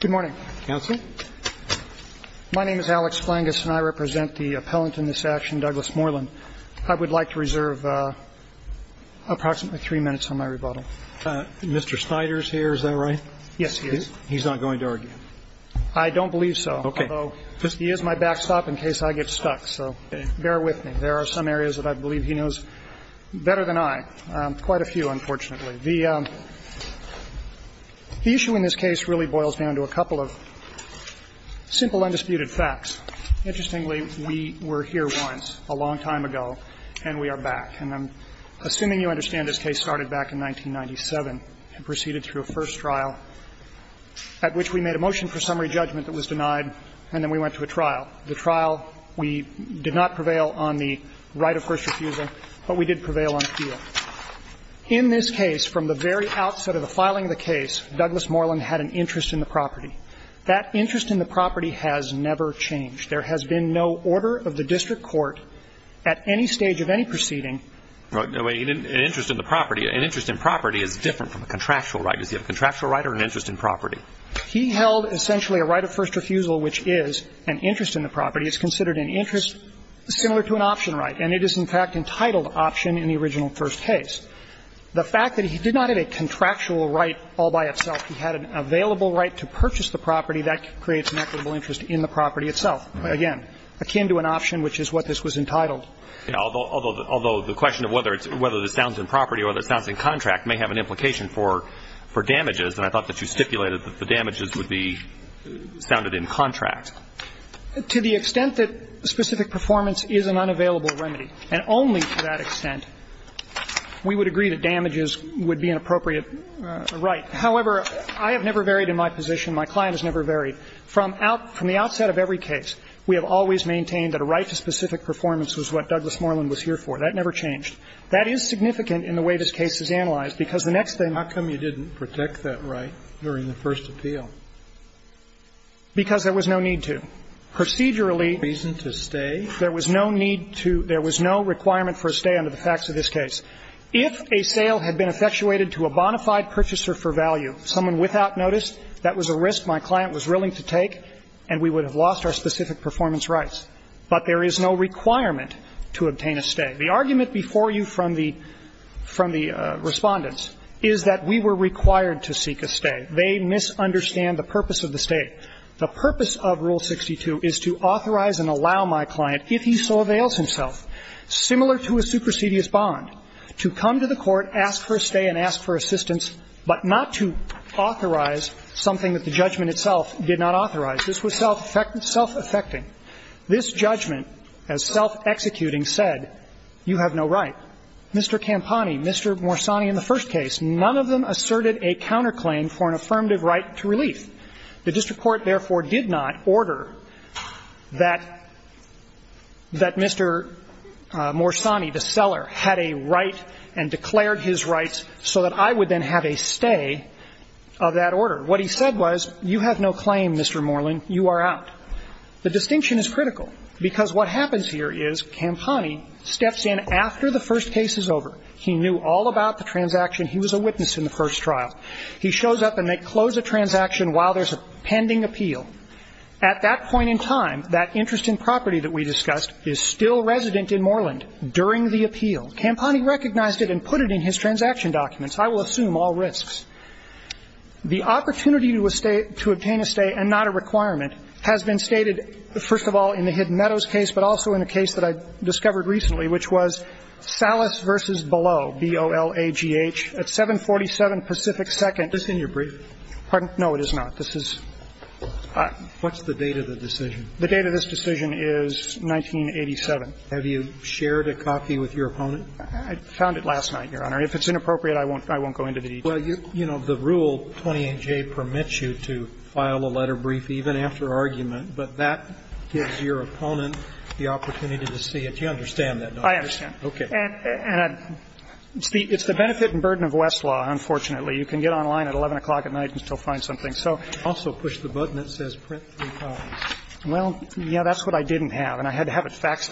Good morning. Counsel. My name is Alex Flangus and I represent the appellant in this action, Douglas Moreland. I would like to reserve approximately three minutes on my rebuttal. Mr. Snyder is here, is that right? Yes, he is. He's not going to argue? I don't believe so. Okay. Although, he is my backstop in case I get stuck, so bear with me. There are some areas that I believe he knows better than I, quite a few, unfortunately. The issue in this case really boils down to a couple of simple undisputed facts. Interestingly, we were here once, a long time ago, and we are back. And I'm assuming you understand this case started back in 1997 and proceeded through a first trial at which we made a motion for summary judgment that was denied and then we went to a trial. The trial, we did not prevail on the right of first refusal, but we did prevail on appeal. In this case, from the very outset of the filing of the case, Douglas Moreland had an interest in the property. That interest in the property has never changed. There has been no order of the district court at any stage of any proceeding An interest in the property, an interest in property is different from a contractual right. Does he have a contractual right or an interest in property? He held essentially a right of first refusal, which is an interest in the property. It's considered an interest similar to an option right. And it is, in fact, entitled option in the original first case. The fact that he did not have a contractual right all by itself, he had an available right to purchase the property, that creates an equitable interest in the property itself, again, akin to an option, which is what this was entitled. Although the question of whether this sounds in property or whether it sounds in contract may have an implication for damages, and I thought that you stipulated that the damages would be sounded in contract. To the extent that specific performance is an unavailable remedy, and only to that extent, we would agree that damages would be an appropriate right. However, I have never varied in my position, my client has never varied. From the outset of every case, we have always maintained that a right to specific performance was what Douglas Moreland was here for. That never changed. That is significant in the way this case is analyzed, because the next thing How come you didn't protect that right during the first appeal? Because there was no need to. Procedurally, there was no need to, there was no requirement for a stay under the facts of this case. If a sale had been effectuated to a bona fide purchaser for value, someone without notice, that was a risk my client was willing to take, and we would have lost our specific performance rights. But there is no requirement to obtain a stay. The argument before you from the Respondents is that we were required to seek a stay. They misunderstand the purpose of the stay. The purpose of Rule 62 is to authorize and allow my client, if he so avails himself, similar to a supersedious bond, to come to the court, ask for a stay and ask for assistance, but not to authorize something that the judgment itself did not authorize. This was self-affecting. This judgment, as self-executing, said you have no right. Mr. Campani, Mr. Morsani in the first case, none of them asserted a counterclaim for an affirmative right to relief. The district court, therefore, did not order that Mr. Morsani, the seller, had a right and declared his rights so that I would then have a stay of that order. What he said was, you have no claim, Mr. Moreland, you are out. The distinction is critical, because what happens here is Campani steps in after the first case is over. He knew all about the transaction. He was a witness in the first trial. He shows up and they close a transaction while there's a pending appeal. At that point in time, that interest in property that we discussed is still resident in Moreland during the appeal. Campani recognized it and put it in his transaction documents. I will assume all risks. The opportunity to obtain a stay and not a requirement has been stated, first of all, in the Hidden Meadows case, but also in a case that I discovered recently, which was Salas v. Below, B-O-L-A-G-H, at 747 Pacific Second. Is this in your brief? Pardon? No, it is not. This is ñ What's the date of the decision? The date of this decision is 1987. Have you shared a copy with your opponent? I found it last night, Your Honor. If it's inappropriate, I won't go into detail. Well, you know, the rule 28J permits you to file a letter brief even after argument, but that gives your opponent the opportunity to see it. You understand that, don't you? I understand. Okay. And it's the benefit and burden of Westlaw, unfortunately. You can get online at 11 o'clock at night and still find something. So ñ Also push the button that says print three times. Well, yeah, that's what I didn't have, and I had to have it faxed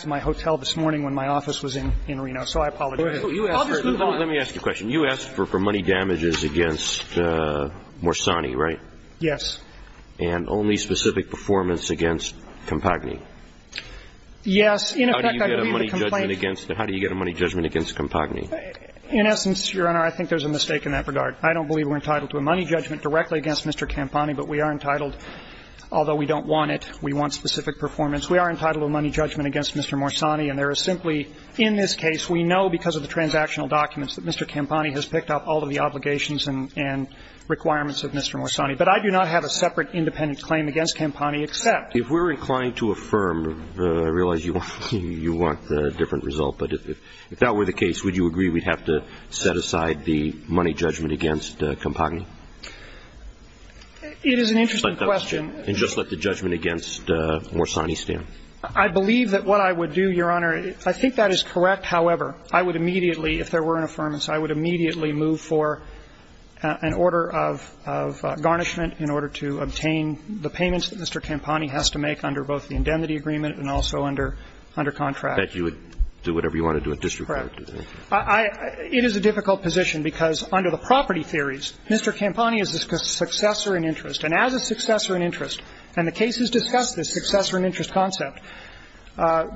to my hotel this morning when my office was in Reno, so I apologize. I'll just move on. Let me ask you a question. You asked for money damages against Morsani, right? Yes. And only specific performance against Campani? Yes. How do you get a money judgment against Campani? In essence, Your Honor, I think there's a mistake in that regard. I don't believe we're entitled to a money judgment directly against Mr. Campani, but we are entitled, although we don't want it, we want specific performance. We are entitled to a money judgment against Mr. Morsani, and there is simply ñ in this case, we know because of the transactional documents that Mr. Campani has picked up all of the obligations and requirements of Mr. Morsani. But I do not have a separate independent claim against Campani except ñ You want a different result. But if that were the case, would you agree we'd have to set aside the money judgment against Campani? It is an interesting question. And just let the judgment against Morsani stand. I believe that what I would do, Your Honor, I think that is correct. However, I would immediately, if there were an affirmance, I would immediately move for an order of garnishment in order to obtain the payments that Mr. Campani has to make under both the indemnity agreement and also under contract. That you would do whatever you want to do at district court. Correct. I ñ it is a difficult position because under the property theories, Mr. Campani is a successor in interest. And as a successor in interest, and the case has discussed this successor in interest concept,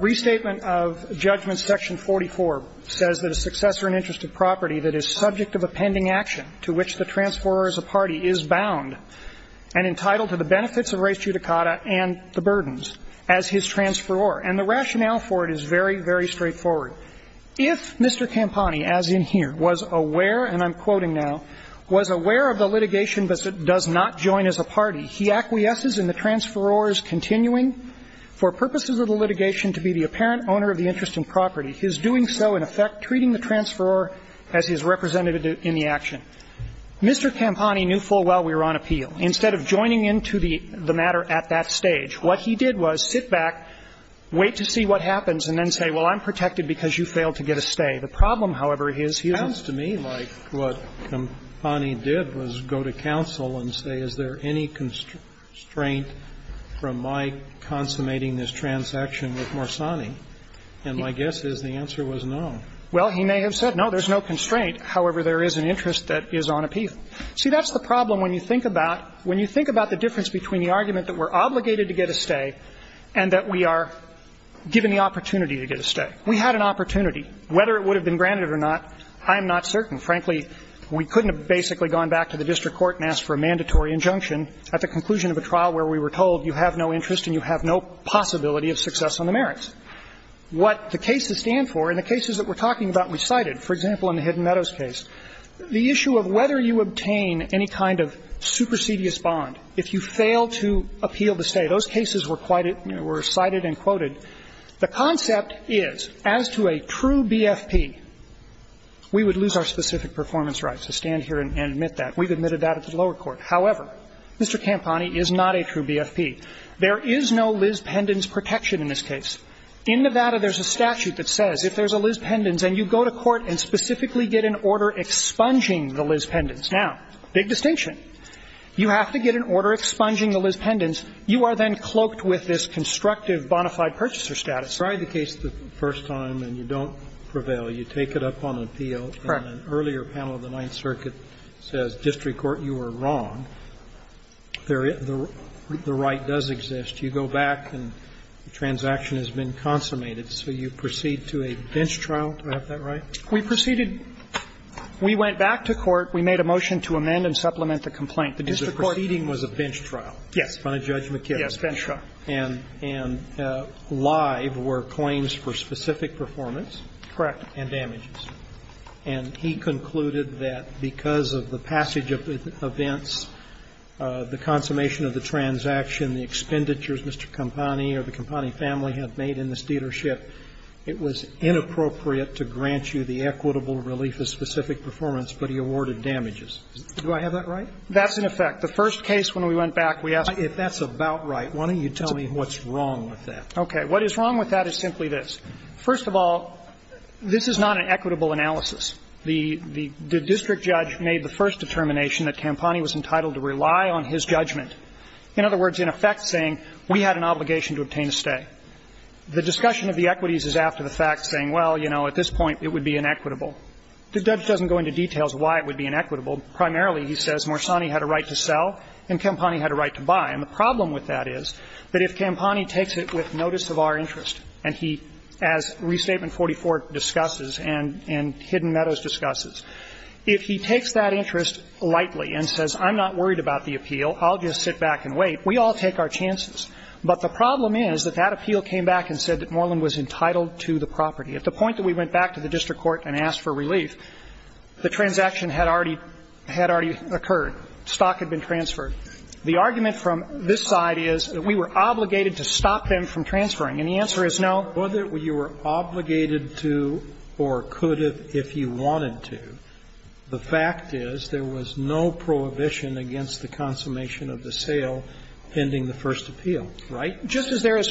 restatement of judgment section 44 says that a successor in interest of property that is subject of a pending action to which the transferor as a party is bound and entitled to the benefits of res judicata and the burdens as his transferor. And the rationale for it is very, very straightforward. If Mr. Campani, as in here, was aware, and I'm quoting now, was aware of the litigation but does not join as a party, he acquiesces in the transferor's continuing for purposes of the litigation to be the apparent owner of the interest in property, his doing so in effect treating the transferor as his representative in the action. Mr. Campani knew full well we were on appeal. Instead of joining into the matter at that stage, what he did was sit back, wait to see what happens, and then say, well, I'm protected because you failed to get a stay. The problem, however, is he was ñ It sounds to me like what Campani did was go to counsel and say, is there any constraint from my consummating this transaction with Morsani? And my guess is the answer was no. Well, he may have said, no, there's no constraint. However, there is an interest that is on appeal. See, that's the problem when you think about ñ when you think about the difference between the argument that we're obligated to get a stay and that we are given the opportunity to get a stay. We had an opportunity. Whether it would have been granted or not, I am not certain. Frankly, we couldn't have basically gone back to the district court and asked for a mandatory injunction at the conclusion of a trial where we were told you have no interest and you have no possibility of success on the merits. What the cases stand for, and the cases that we're talking about we cited, for example, in the Hidden Meadows case, the issue of whether you obtain any kind of supersedious bond if you fail to appeal the stay. Those cases were cited and quoted. The concept is, as to a true BFP, we would lose our specific performance rights to stand here and admit that. We've admitted that at the lower court. However, Mr. Campani is not a true BFP. There is no Liz Pendens protection in this case. In Nevada, there's a statute that says if there's a Liz Pendens and you go to court and specifically get an order expunging the Liz Pendens. Now, big distinction. You have to get an order expunging the Liz Pendens. You are then cloaked with this constructive bonafide purchaser status. Kennedy. The case the first time and you don't prevail, you take it up on appeal. Correct. And an earlier panel of the Ninth Circuit says, district court, you were wrong. The right does exist. You go back and the transaction has been consummated. So you proceed to a bench trial. Do I have that right? We proceeded we went back to court. We made a motion to amend and supplement the complaint. The district court. The proceeding was a bench trial. In front of Judge McKibben. Yes, bench trial. And live were claims for specific performance. Correct. And damages. And he concluded that because of the passage of the events, the consummation of the transaction, the expenditures Mr. Campani or the Campani family have made in this dealership, it was inappropriate to grant you the equitable relief of specific performance, but he awarded damages. Do I have that right? That's in effect. The first case when we went back, we asked. If that's about right, why don't you tell me what's wrong with that? Okay. What is wrong with that is simply this. First of all, this is not an equitable analysis. The district judge made the first determination that Campani was entitled to rely on his judgment. In other words, in effect saying we had an obligation to obtain a stay. The discussion of the equities is after the fact saying, well, you know, at this point it would be inequitable. The judge doesn't go into details why it would be inequitable. Primarily, he says Morsani had a right to sell and Campani had a right to buy. And the problem with that is that if Campani takes it with notice of our interest, and he, as Restatement 44 discusses and Hidden Meadows discusses, if he takes that interest lightly and says I'm not worried about the appeal, I'll just sit back and wait, we all take our chances. But the problem is that that appeal came back and said that Moreland was entitled to the property. At the point that we went back to the district court and asked for relief, the transaction had already occurred. Stock had been transferred. The argument from this side is that we were obligated to stop them from transferring. And the answer is no. Sotomayor, whether you were obligated to or could if you wanted to, the fact is there was no prohibition against the consummation of the sale pending the first appeal. Right? Just as there is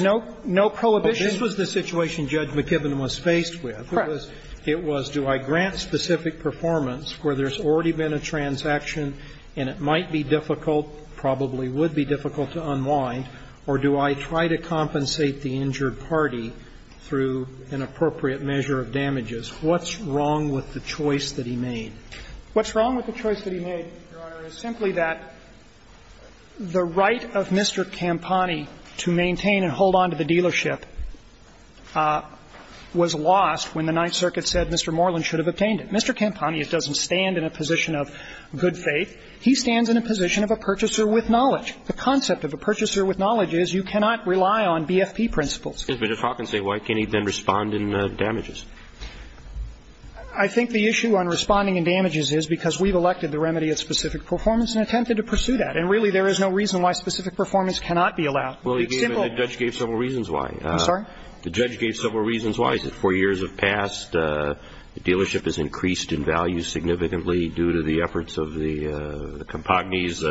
no prohibition. This was the situation Judge McKibben was faced with. Correct. It was, do I grant specific performance where there's already been a transaction and it might be difficult, probably would be difficult to unwind, or do I try to compensate the injured party through an appropriate measure of damages? What's wrong with the choice that he made? What's wrong with the choice that he made, Your Honor, is simply that the right of Mr. Campani to maintain and hold on to the dealership was lost when the Ninth Circuit said Mr. Moreland should have obtained it. Mr. Campani doesn't stand in a position of good faith. He stands in a position of a purchaser with knowledge. The concept of a purchaser with knowledge is you cannot rely on BFP principles. But if Hawkins said, why can't he then respond in damages? I think the issue on responding in damages is because we've elected the remedy of specific performance and attempted to pursue that. And really, there is no reason why specific performance cannot be allowed. Well, he gave, the judge gave several reasons why. I'm sorry? The judge gave several reasons why. He said four years have passed. The dealership has increased in value significantly due to the efforts of the Campagnis.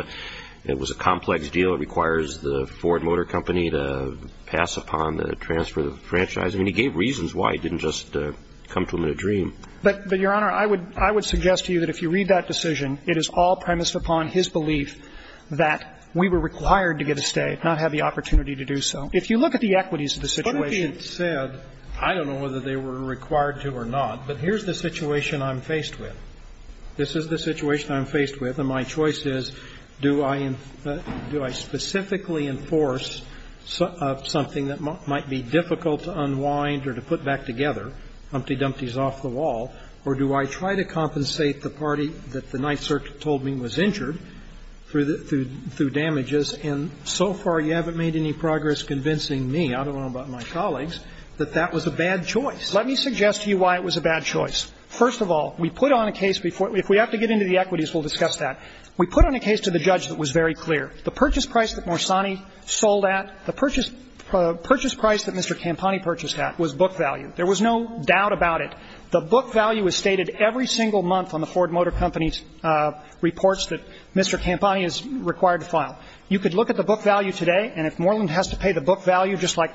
It was a complex deal. It requires the Ford Motor Company to pass upon the transfer of the franchise. I mean, he gave reasons why. He didn't just come to him in a dream. But, Your Honor, I would suggest to you that if you read that decision, it is all premised upon his belief that we were required to get a stay, not have the opportunity to do so. If you look at the equities of the situation. But if he had said, I don't know whether they were required to or not, but here's the situation I'm faced with. This is the situation I'm faced with, and my choice is, do I specifically enforce something that might be difficult to unwind or to put back together, Humpty Dumpty's off the wall, or do I try to compensate the party that the Ninth Circuit told me was injured through damages, and so far you haven't made any progress convincing me, I don't know about my colleagues, that that was a bad choice. Let me suggest to you why it was a bad choice. First of all, we put on a case before we – if we have to get into the equities, we'll discuss that. We put on a case to the judge that was very clear. The purchase price that Morsani sold at, the purchase price that Mr. Campani purchased at was book value. There was no doubt about it. The book value is stated every single month on the Ford Motor Company's reports that Mr. Campani is required to file. You could look at the book value today, and if Moreland has to pay the book value just like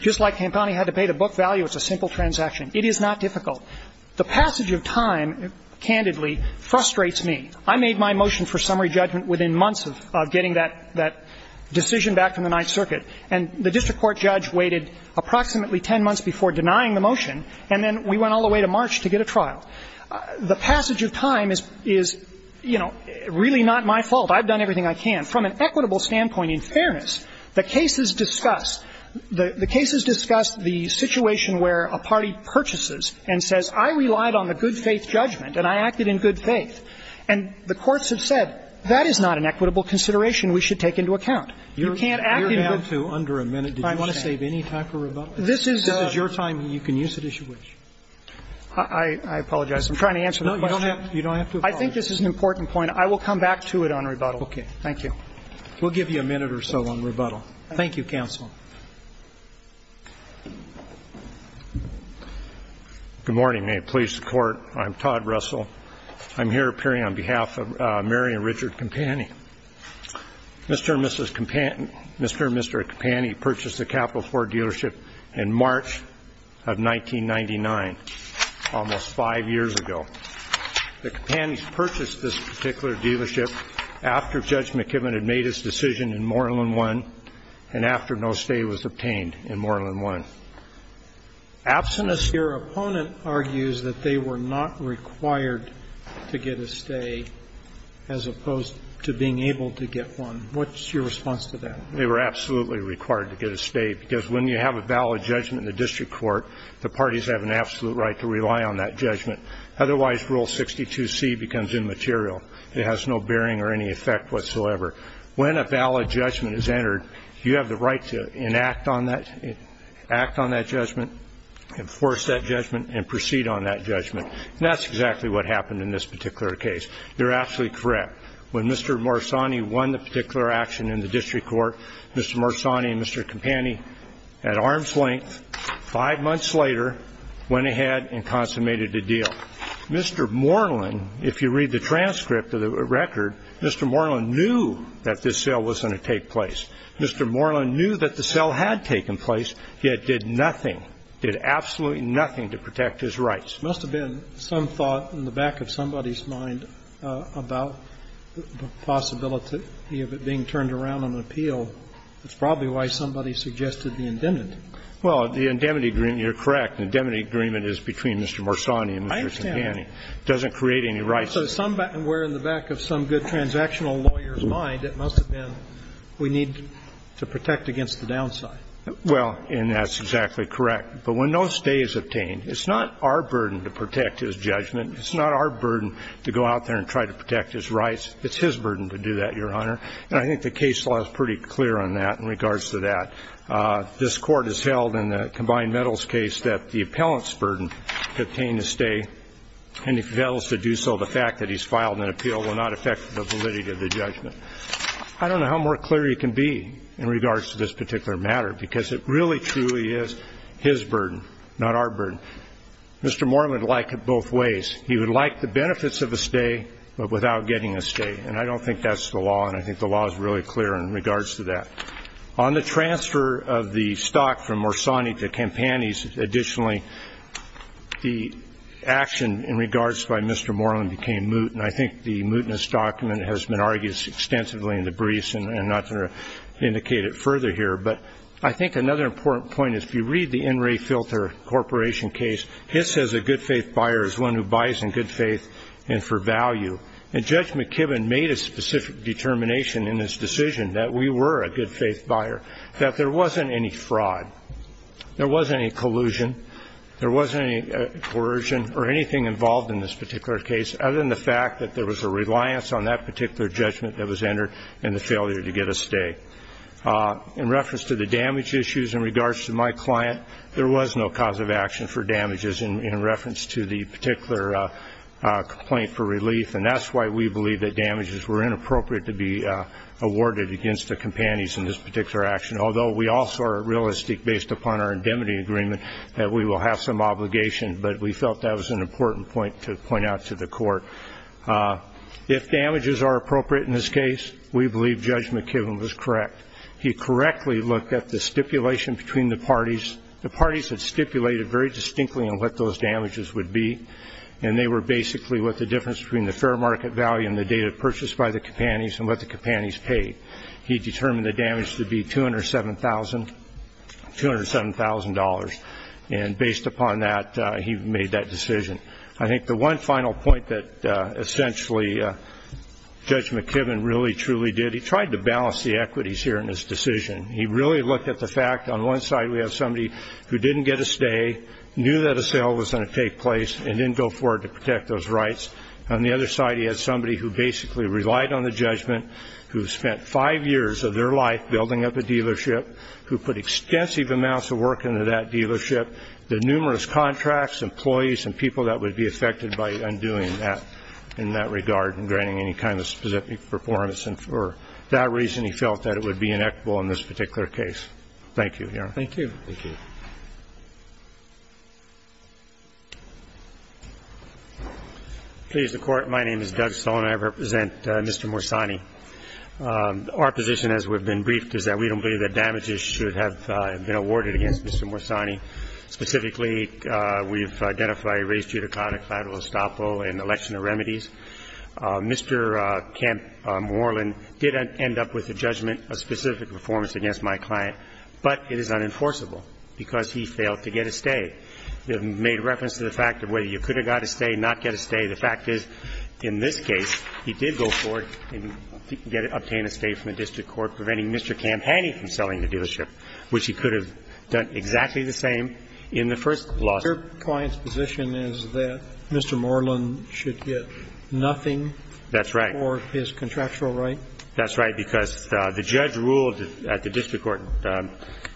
Campani had to pay the book value, it's a simple transaction. It is not difficult. The passage of time, candidly, frustrates me. I made my motion for summary judgment within months of getting that decision back from the Ninth Circuit, and the district court judge waited approximately 10 months before denying the motion, and then we went all the way to March to get a trial. The passage of time is, you know, really not my fault. I've done everything I can. From an equitable standpoint, in fairness, the cases discuss the situation where a party purchases and says, I relied on the good faith judgment and I acted in good faith. And the courts have said, that is not an equitable consideration we should take into account. You can't act in good faith. Scalia, you're down to under a minute. Did you want to save any time for rebuttal? This is your time, and you can use it as you wish. I apologize. I'm trying to answer the question. No, you don't have to apologize. I think this is an important point. I will come back to it on rebuttal. Okay. Thank you. We'll give you a minute or so on rebuttal. Thank you, counsel. Good morning. May it please the Court. I'm Todd Russell. I'm here appearing on behalf of Mary and Richard Campani. Mr. and Mrs. Campani, Mr. and Mr. Campani purchased the Capital Ford dealership in March of 1999, almost five years ago. The Campanis purchased this particular dealership after Judge McKibben had made his decision in Moreland 1, and after no stay was obtained in Moreland 1. Absent a sphere, opponent argues that they were not required to get a stay as opposed to being able to get one. What's your response to that? They were absolutely required to get a stay, because when you have a valid judgment in the district court, the parties have an absolute right to rely on that judgment. Otherwise, Rule 62C becomes immaterial. It has no bearing or any effect whatsoever. When a valid judgment is entered, you have the right to enact on that, act on that judgment, enforce that judgment, and proceed on that judgment. That's exactly what happened in this particular case. You're absolutely correct. When Mr. Morsani won the particular action in the district court, Mr. Morsani and Mr. Campani, at arm's length, five months later, went ahead and consummated the deal. Mr. Moreland, if you read the transcript of the record, Mr. Moreland knew that this sale wasn't going to take place. Mr. Moreland knew that the sale had taken place, yet did nothing, did absolutely nothing to protect his rights. It must have been some thought in the back of somebody's mind about the possibility of it being turned around on an appeal. That's probably why somebody suggested the indemnity. Well, the indemnity agreement, you're correct. The indemnity agreement is between Mr. Morsani and Mr. Campani. It doesn't create any rights. So somewhere in the back of some good transactional lawyer's mind, it must have been we need to protect against the downside. Well, and that's exactly correct. But when no stay is obtained, it's not our burden to protect his judgment. It's not our burden to go out there and try to protect his rights. It's his burden to do that, Your Honor. And I think the case law is pretty clear on that in regards to that. This Court has held in the combined metals case that the appellant's burden to obtain a stay, and if he fails to do so, the fact that he's filed an appeal will not affect the validity of the judgment. I don't know how more clear you can be in regards to this particular matter, because it really truly is his burden, not our burden. Mr. Moore would like it both ways. He would like the benefits of a stay, but without getting a stay. And I don't think that's the law, and I think the law is really clear in regards to that. On the transfer of the stock from Morsani to Campani's, additionally, the action in regards by Mr. Moreland became moot, and I think the mootness document has been argued extensively in the briefs, and I'm not going to indicate it further here. But I think another important point is, if you read the NRA Filter Corporation case, it says a good faith buyer is one who buys in good faith and for value. And Judge McKibben made a specific determination in his decision that we were a good faith buyer, that there wasn't any fraud, there wasn't any collusion, there wasn't any coercion or anything involved in this particular case, other than the fact that there was a reliance on that particular judgment that was entered, and the failure to get a stay. In reference to the damage issues in regards to my client, there was no cause of action for damages in reference to the particular complaint for relief, and that's why we believe that damages were inappropriate to be awarded against the Campanis in this particular action, although we also are realistic, based upon our indemnity agreement, that we will have some obligation. But we felt that was an important point to point out to the court. If damages are appropriate in this case, we believe Judge McKibben was correct. He correctly looked at the stipulation between the parties. The parties had stipulated very distinctly on what those damages would be. And they were basically what the difference between the fair market value and the data purchased by the Campanis and what the Campanis paid. He determined the damage to be $207,000, and based upon that, he made that decision. I think the one final point that essentially Judge McKibben really, truly did, he tried to balance the equities here in his decision. He really looked at the fact, on one side we have somebody who didn't get a stay, knew that a sale was gonna take place, and didn't go forward to protect those rights. On the other side, he had somebody who basically relied on the judgment, who spent five years of their life building up a dealership, who put extensive amounts of work into that dealership, the numerous contracts, employees, and people that would be affected by undoing that in that regard and granting any kind of specific performance. And for that reason, he felt that it would be inequitable in this particular case. Thank you, Your Honor. Thank you. Please, the Court, my name is Doug Stone, and I represent Mr. Morsani. Our position, as we've been briefed, is that we don't believe that damages should have been awarded against Mr. Morsani. Specifically, we've identified a race judicata, collateral estoppel, and election of remedies. Mr. Camp Morland did end up with a judgment of specific performance against my client, but it is unenforceable because he failed to get a stay. We have made reference to the fact of whether you could have got a stay, not get a stay. The fact is, in this case, he did go forward and get and obtain a stay from the district court, preventing Mr. Camp Haney from selling the dealership, which he could have done exactly the same in the first lawsuit. Your client's position is that Mr. Morland should get nothing for his contractual right? That's right. That's right, because the judge ruled at the district court,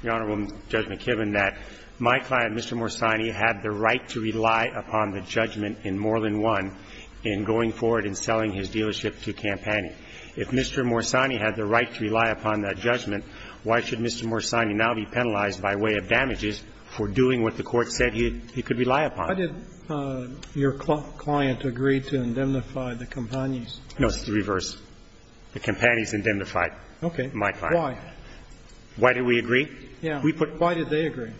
Your Honorable Judge McKibben, that my client, Mr. Morsani, had the right to rely upon the judgment in Morland 1 in going forward and selling his dealership to Camp Haney. If Mr. Morsani had the right to rely upon that judgment, why should Mr. Morsani now be penalized by way of damages for doing what the court said he could rely upon? Why did your client agree to indemnify the Camp Haneys? No, it's the reverse. The Camp Haneys indemnified my client. Okay. Why? Why did we agree? Yeah. Why did they agree?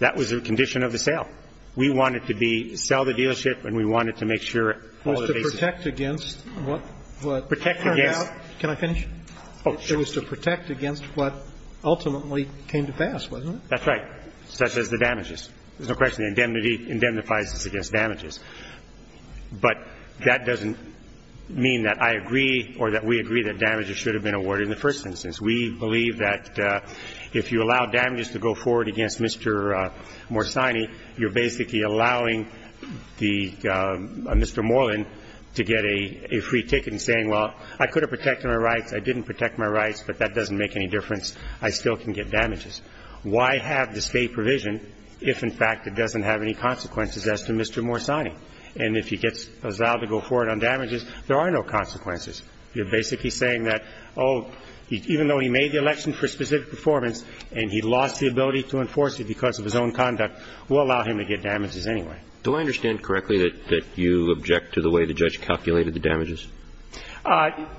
That was the condition of the sale. We wanted to be – sell the dealership and we wanted to make sure all the bases were covered. It was to protect against what turned out. Can I finish? Oh, sure. It was to protect against what ultimately came to pass, wasn't it? That's right, such as the damages. There's no question. The indemnity indemnifies us against damages. But that doesn't mean that I agree or that we agree that damages should have been awarded in the first instance. We believe that if you allow damages to go forward against Mr. Morsani, you're basically allowing the – Mr. Moreland to get a free ticket and saying, well, I could have protected my rights, I didn't protect my rights, but that doesn't make any difference, I still can get damages. Why have the state provision if, in fact, it doesn't have any consequences as to Mr. Morsani? And if he gets allowed to go forward on damages, there are no consequences. You're basically saying that, oh, even though he made the election for specific performance and he lost the ability to enforce it because of his own conduct, we'll allow him to get damages anyway. Do I understand correctly that you object to the way the judge calculated the damages?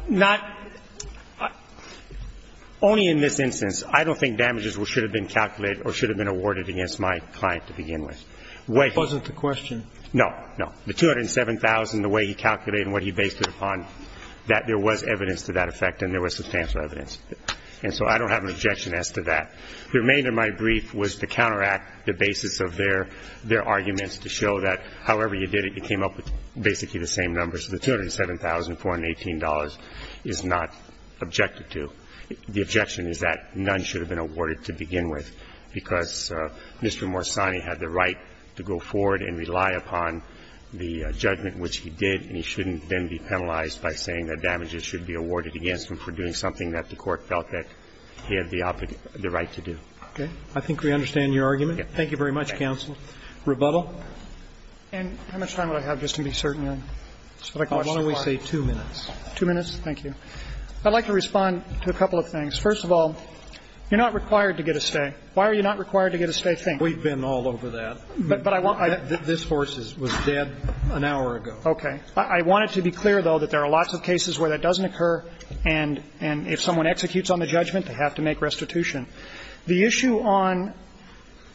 Not – only in this instance. I don't think damages should have been calculated or should have been awarded against my client to begin with. Wait. It wasn't the question. No, no. The $207,000, the way he calculated and what he based it upon, that there was evidence to that effect and there was substantial evidence. And so I don't have an objection as to that. The remainder of my brief was to counteract the basis of their arguments to show that however you did it, you came up with basically the same numbers. So the $207,418 is not objected to. The objection is that none should have been awarded to begin with, because Mr. Morsani had the right to go forward and rely upon the judgment which he did, and he shouldn't then be penalized by saying that damages should be awarded against him for doing something that the Court felt that he had the right to do. Okay. I think we understand your argument. Thank you very much, counsel. Rebuttal. And how much time do I have, just to be certain? Why don't we say two minutes? Two minutes? Thank you. I'd like to respond to a couple of things. First of all, you're not required to get a stay. Why are you not required to get a stay? We've been all over that. But I want to be clear, though, that there are lots of cases where that doesn't occur, and if someone executes on the judgment, they have to make restitution. The issue on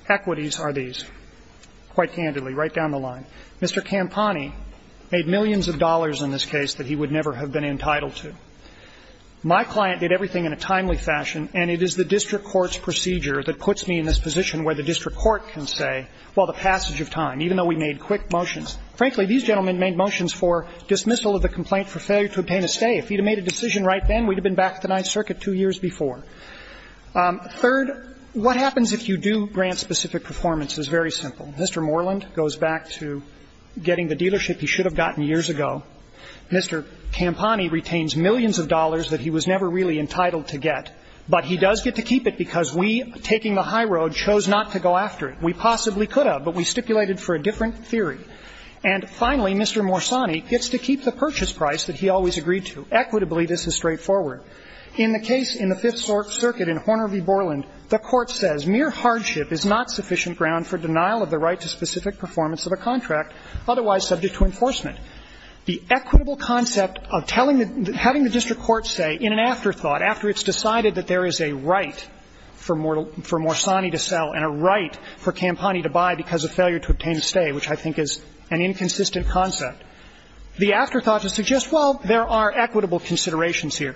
equities are these. Quite candidly, right down the line, Mr. Campani made millions of dollars in this case that he would never have been entitled to. My client did everything in a timely fashion, and it is the district court's procedure that puts me in this position where the district court can say, well, the passage of time, even though we made quick motions. Frankly, these gentlemen made motions for dismissal of the complaint for failure to obtain a stay. If he had made a decision right then, we'd have been back to the Ninth Circuit two years before. Third, what happens if you do grant specific performance is very simple. Mr. Moreland goes back to getting the dealership he should have gotten years ago. Mr. Campani retains millions of dollars that he was never really entitled to get, but he does get to keep it because we, taking the high road, chose not to go after it. We possibly could have, but we stipulated for a different theory. And finally, Mr. Morsani gets to keep the purchase price that he always agreed to. Equitably, this is straightforward. In the case in the Fifth Circuit in Horner v. Borland, the Court says, ''Mere hardship is not sufficient ground for denial of the right to specific performance of a contract otherwise subject to enforcement.'' The equitable concept of telling the – having the district court say in an afterthought, after it's decided that there is a right for Morsani to sell and a right for Campani to buy because of failure to obtain a stay, which I think is an inconsistent concept, the afterthought should suggest, well, there are equitable considerations here.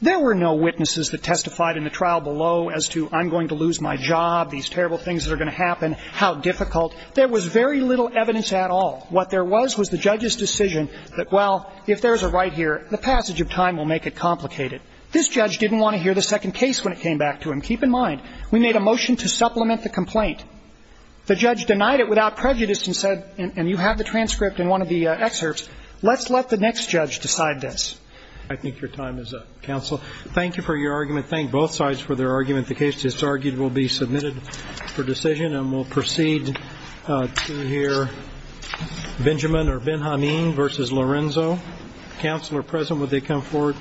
There were no witnesses that testified in the trial below as to, I'm going to lose my job, these terrible things are going to happen, how difficult. There was very little evidence at all. What there was was the judge's decision that, well, if there is a right here, the passage of time will make it complicated. This judge didn't want to hear the second case when it came back to him. Keep in mind, we made a motion to supplement the complaint. The judge denied it without prejudice and said, and you have the transcript in one of the excerpts, let's let the next judge decide this. I think your time is up, counsel. Thank you for your argument. Thank both sides for their argument. The case that's argued will be submitted for decision, and we'll proceed to hear Benjamin or Benjamin versus Lorenzo. Counselor present, would they come forward, please?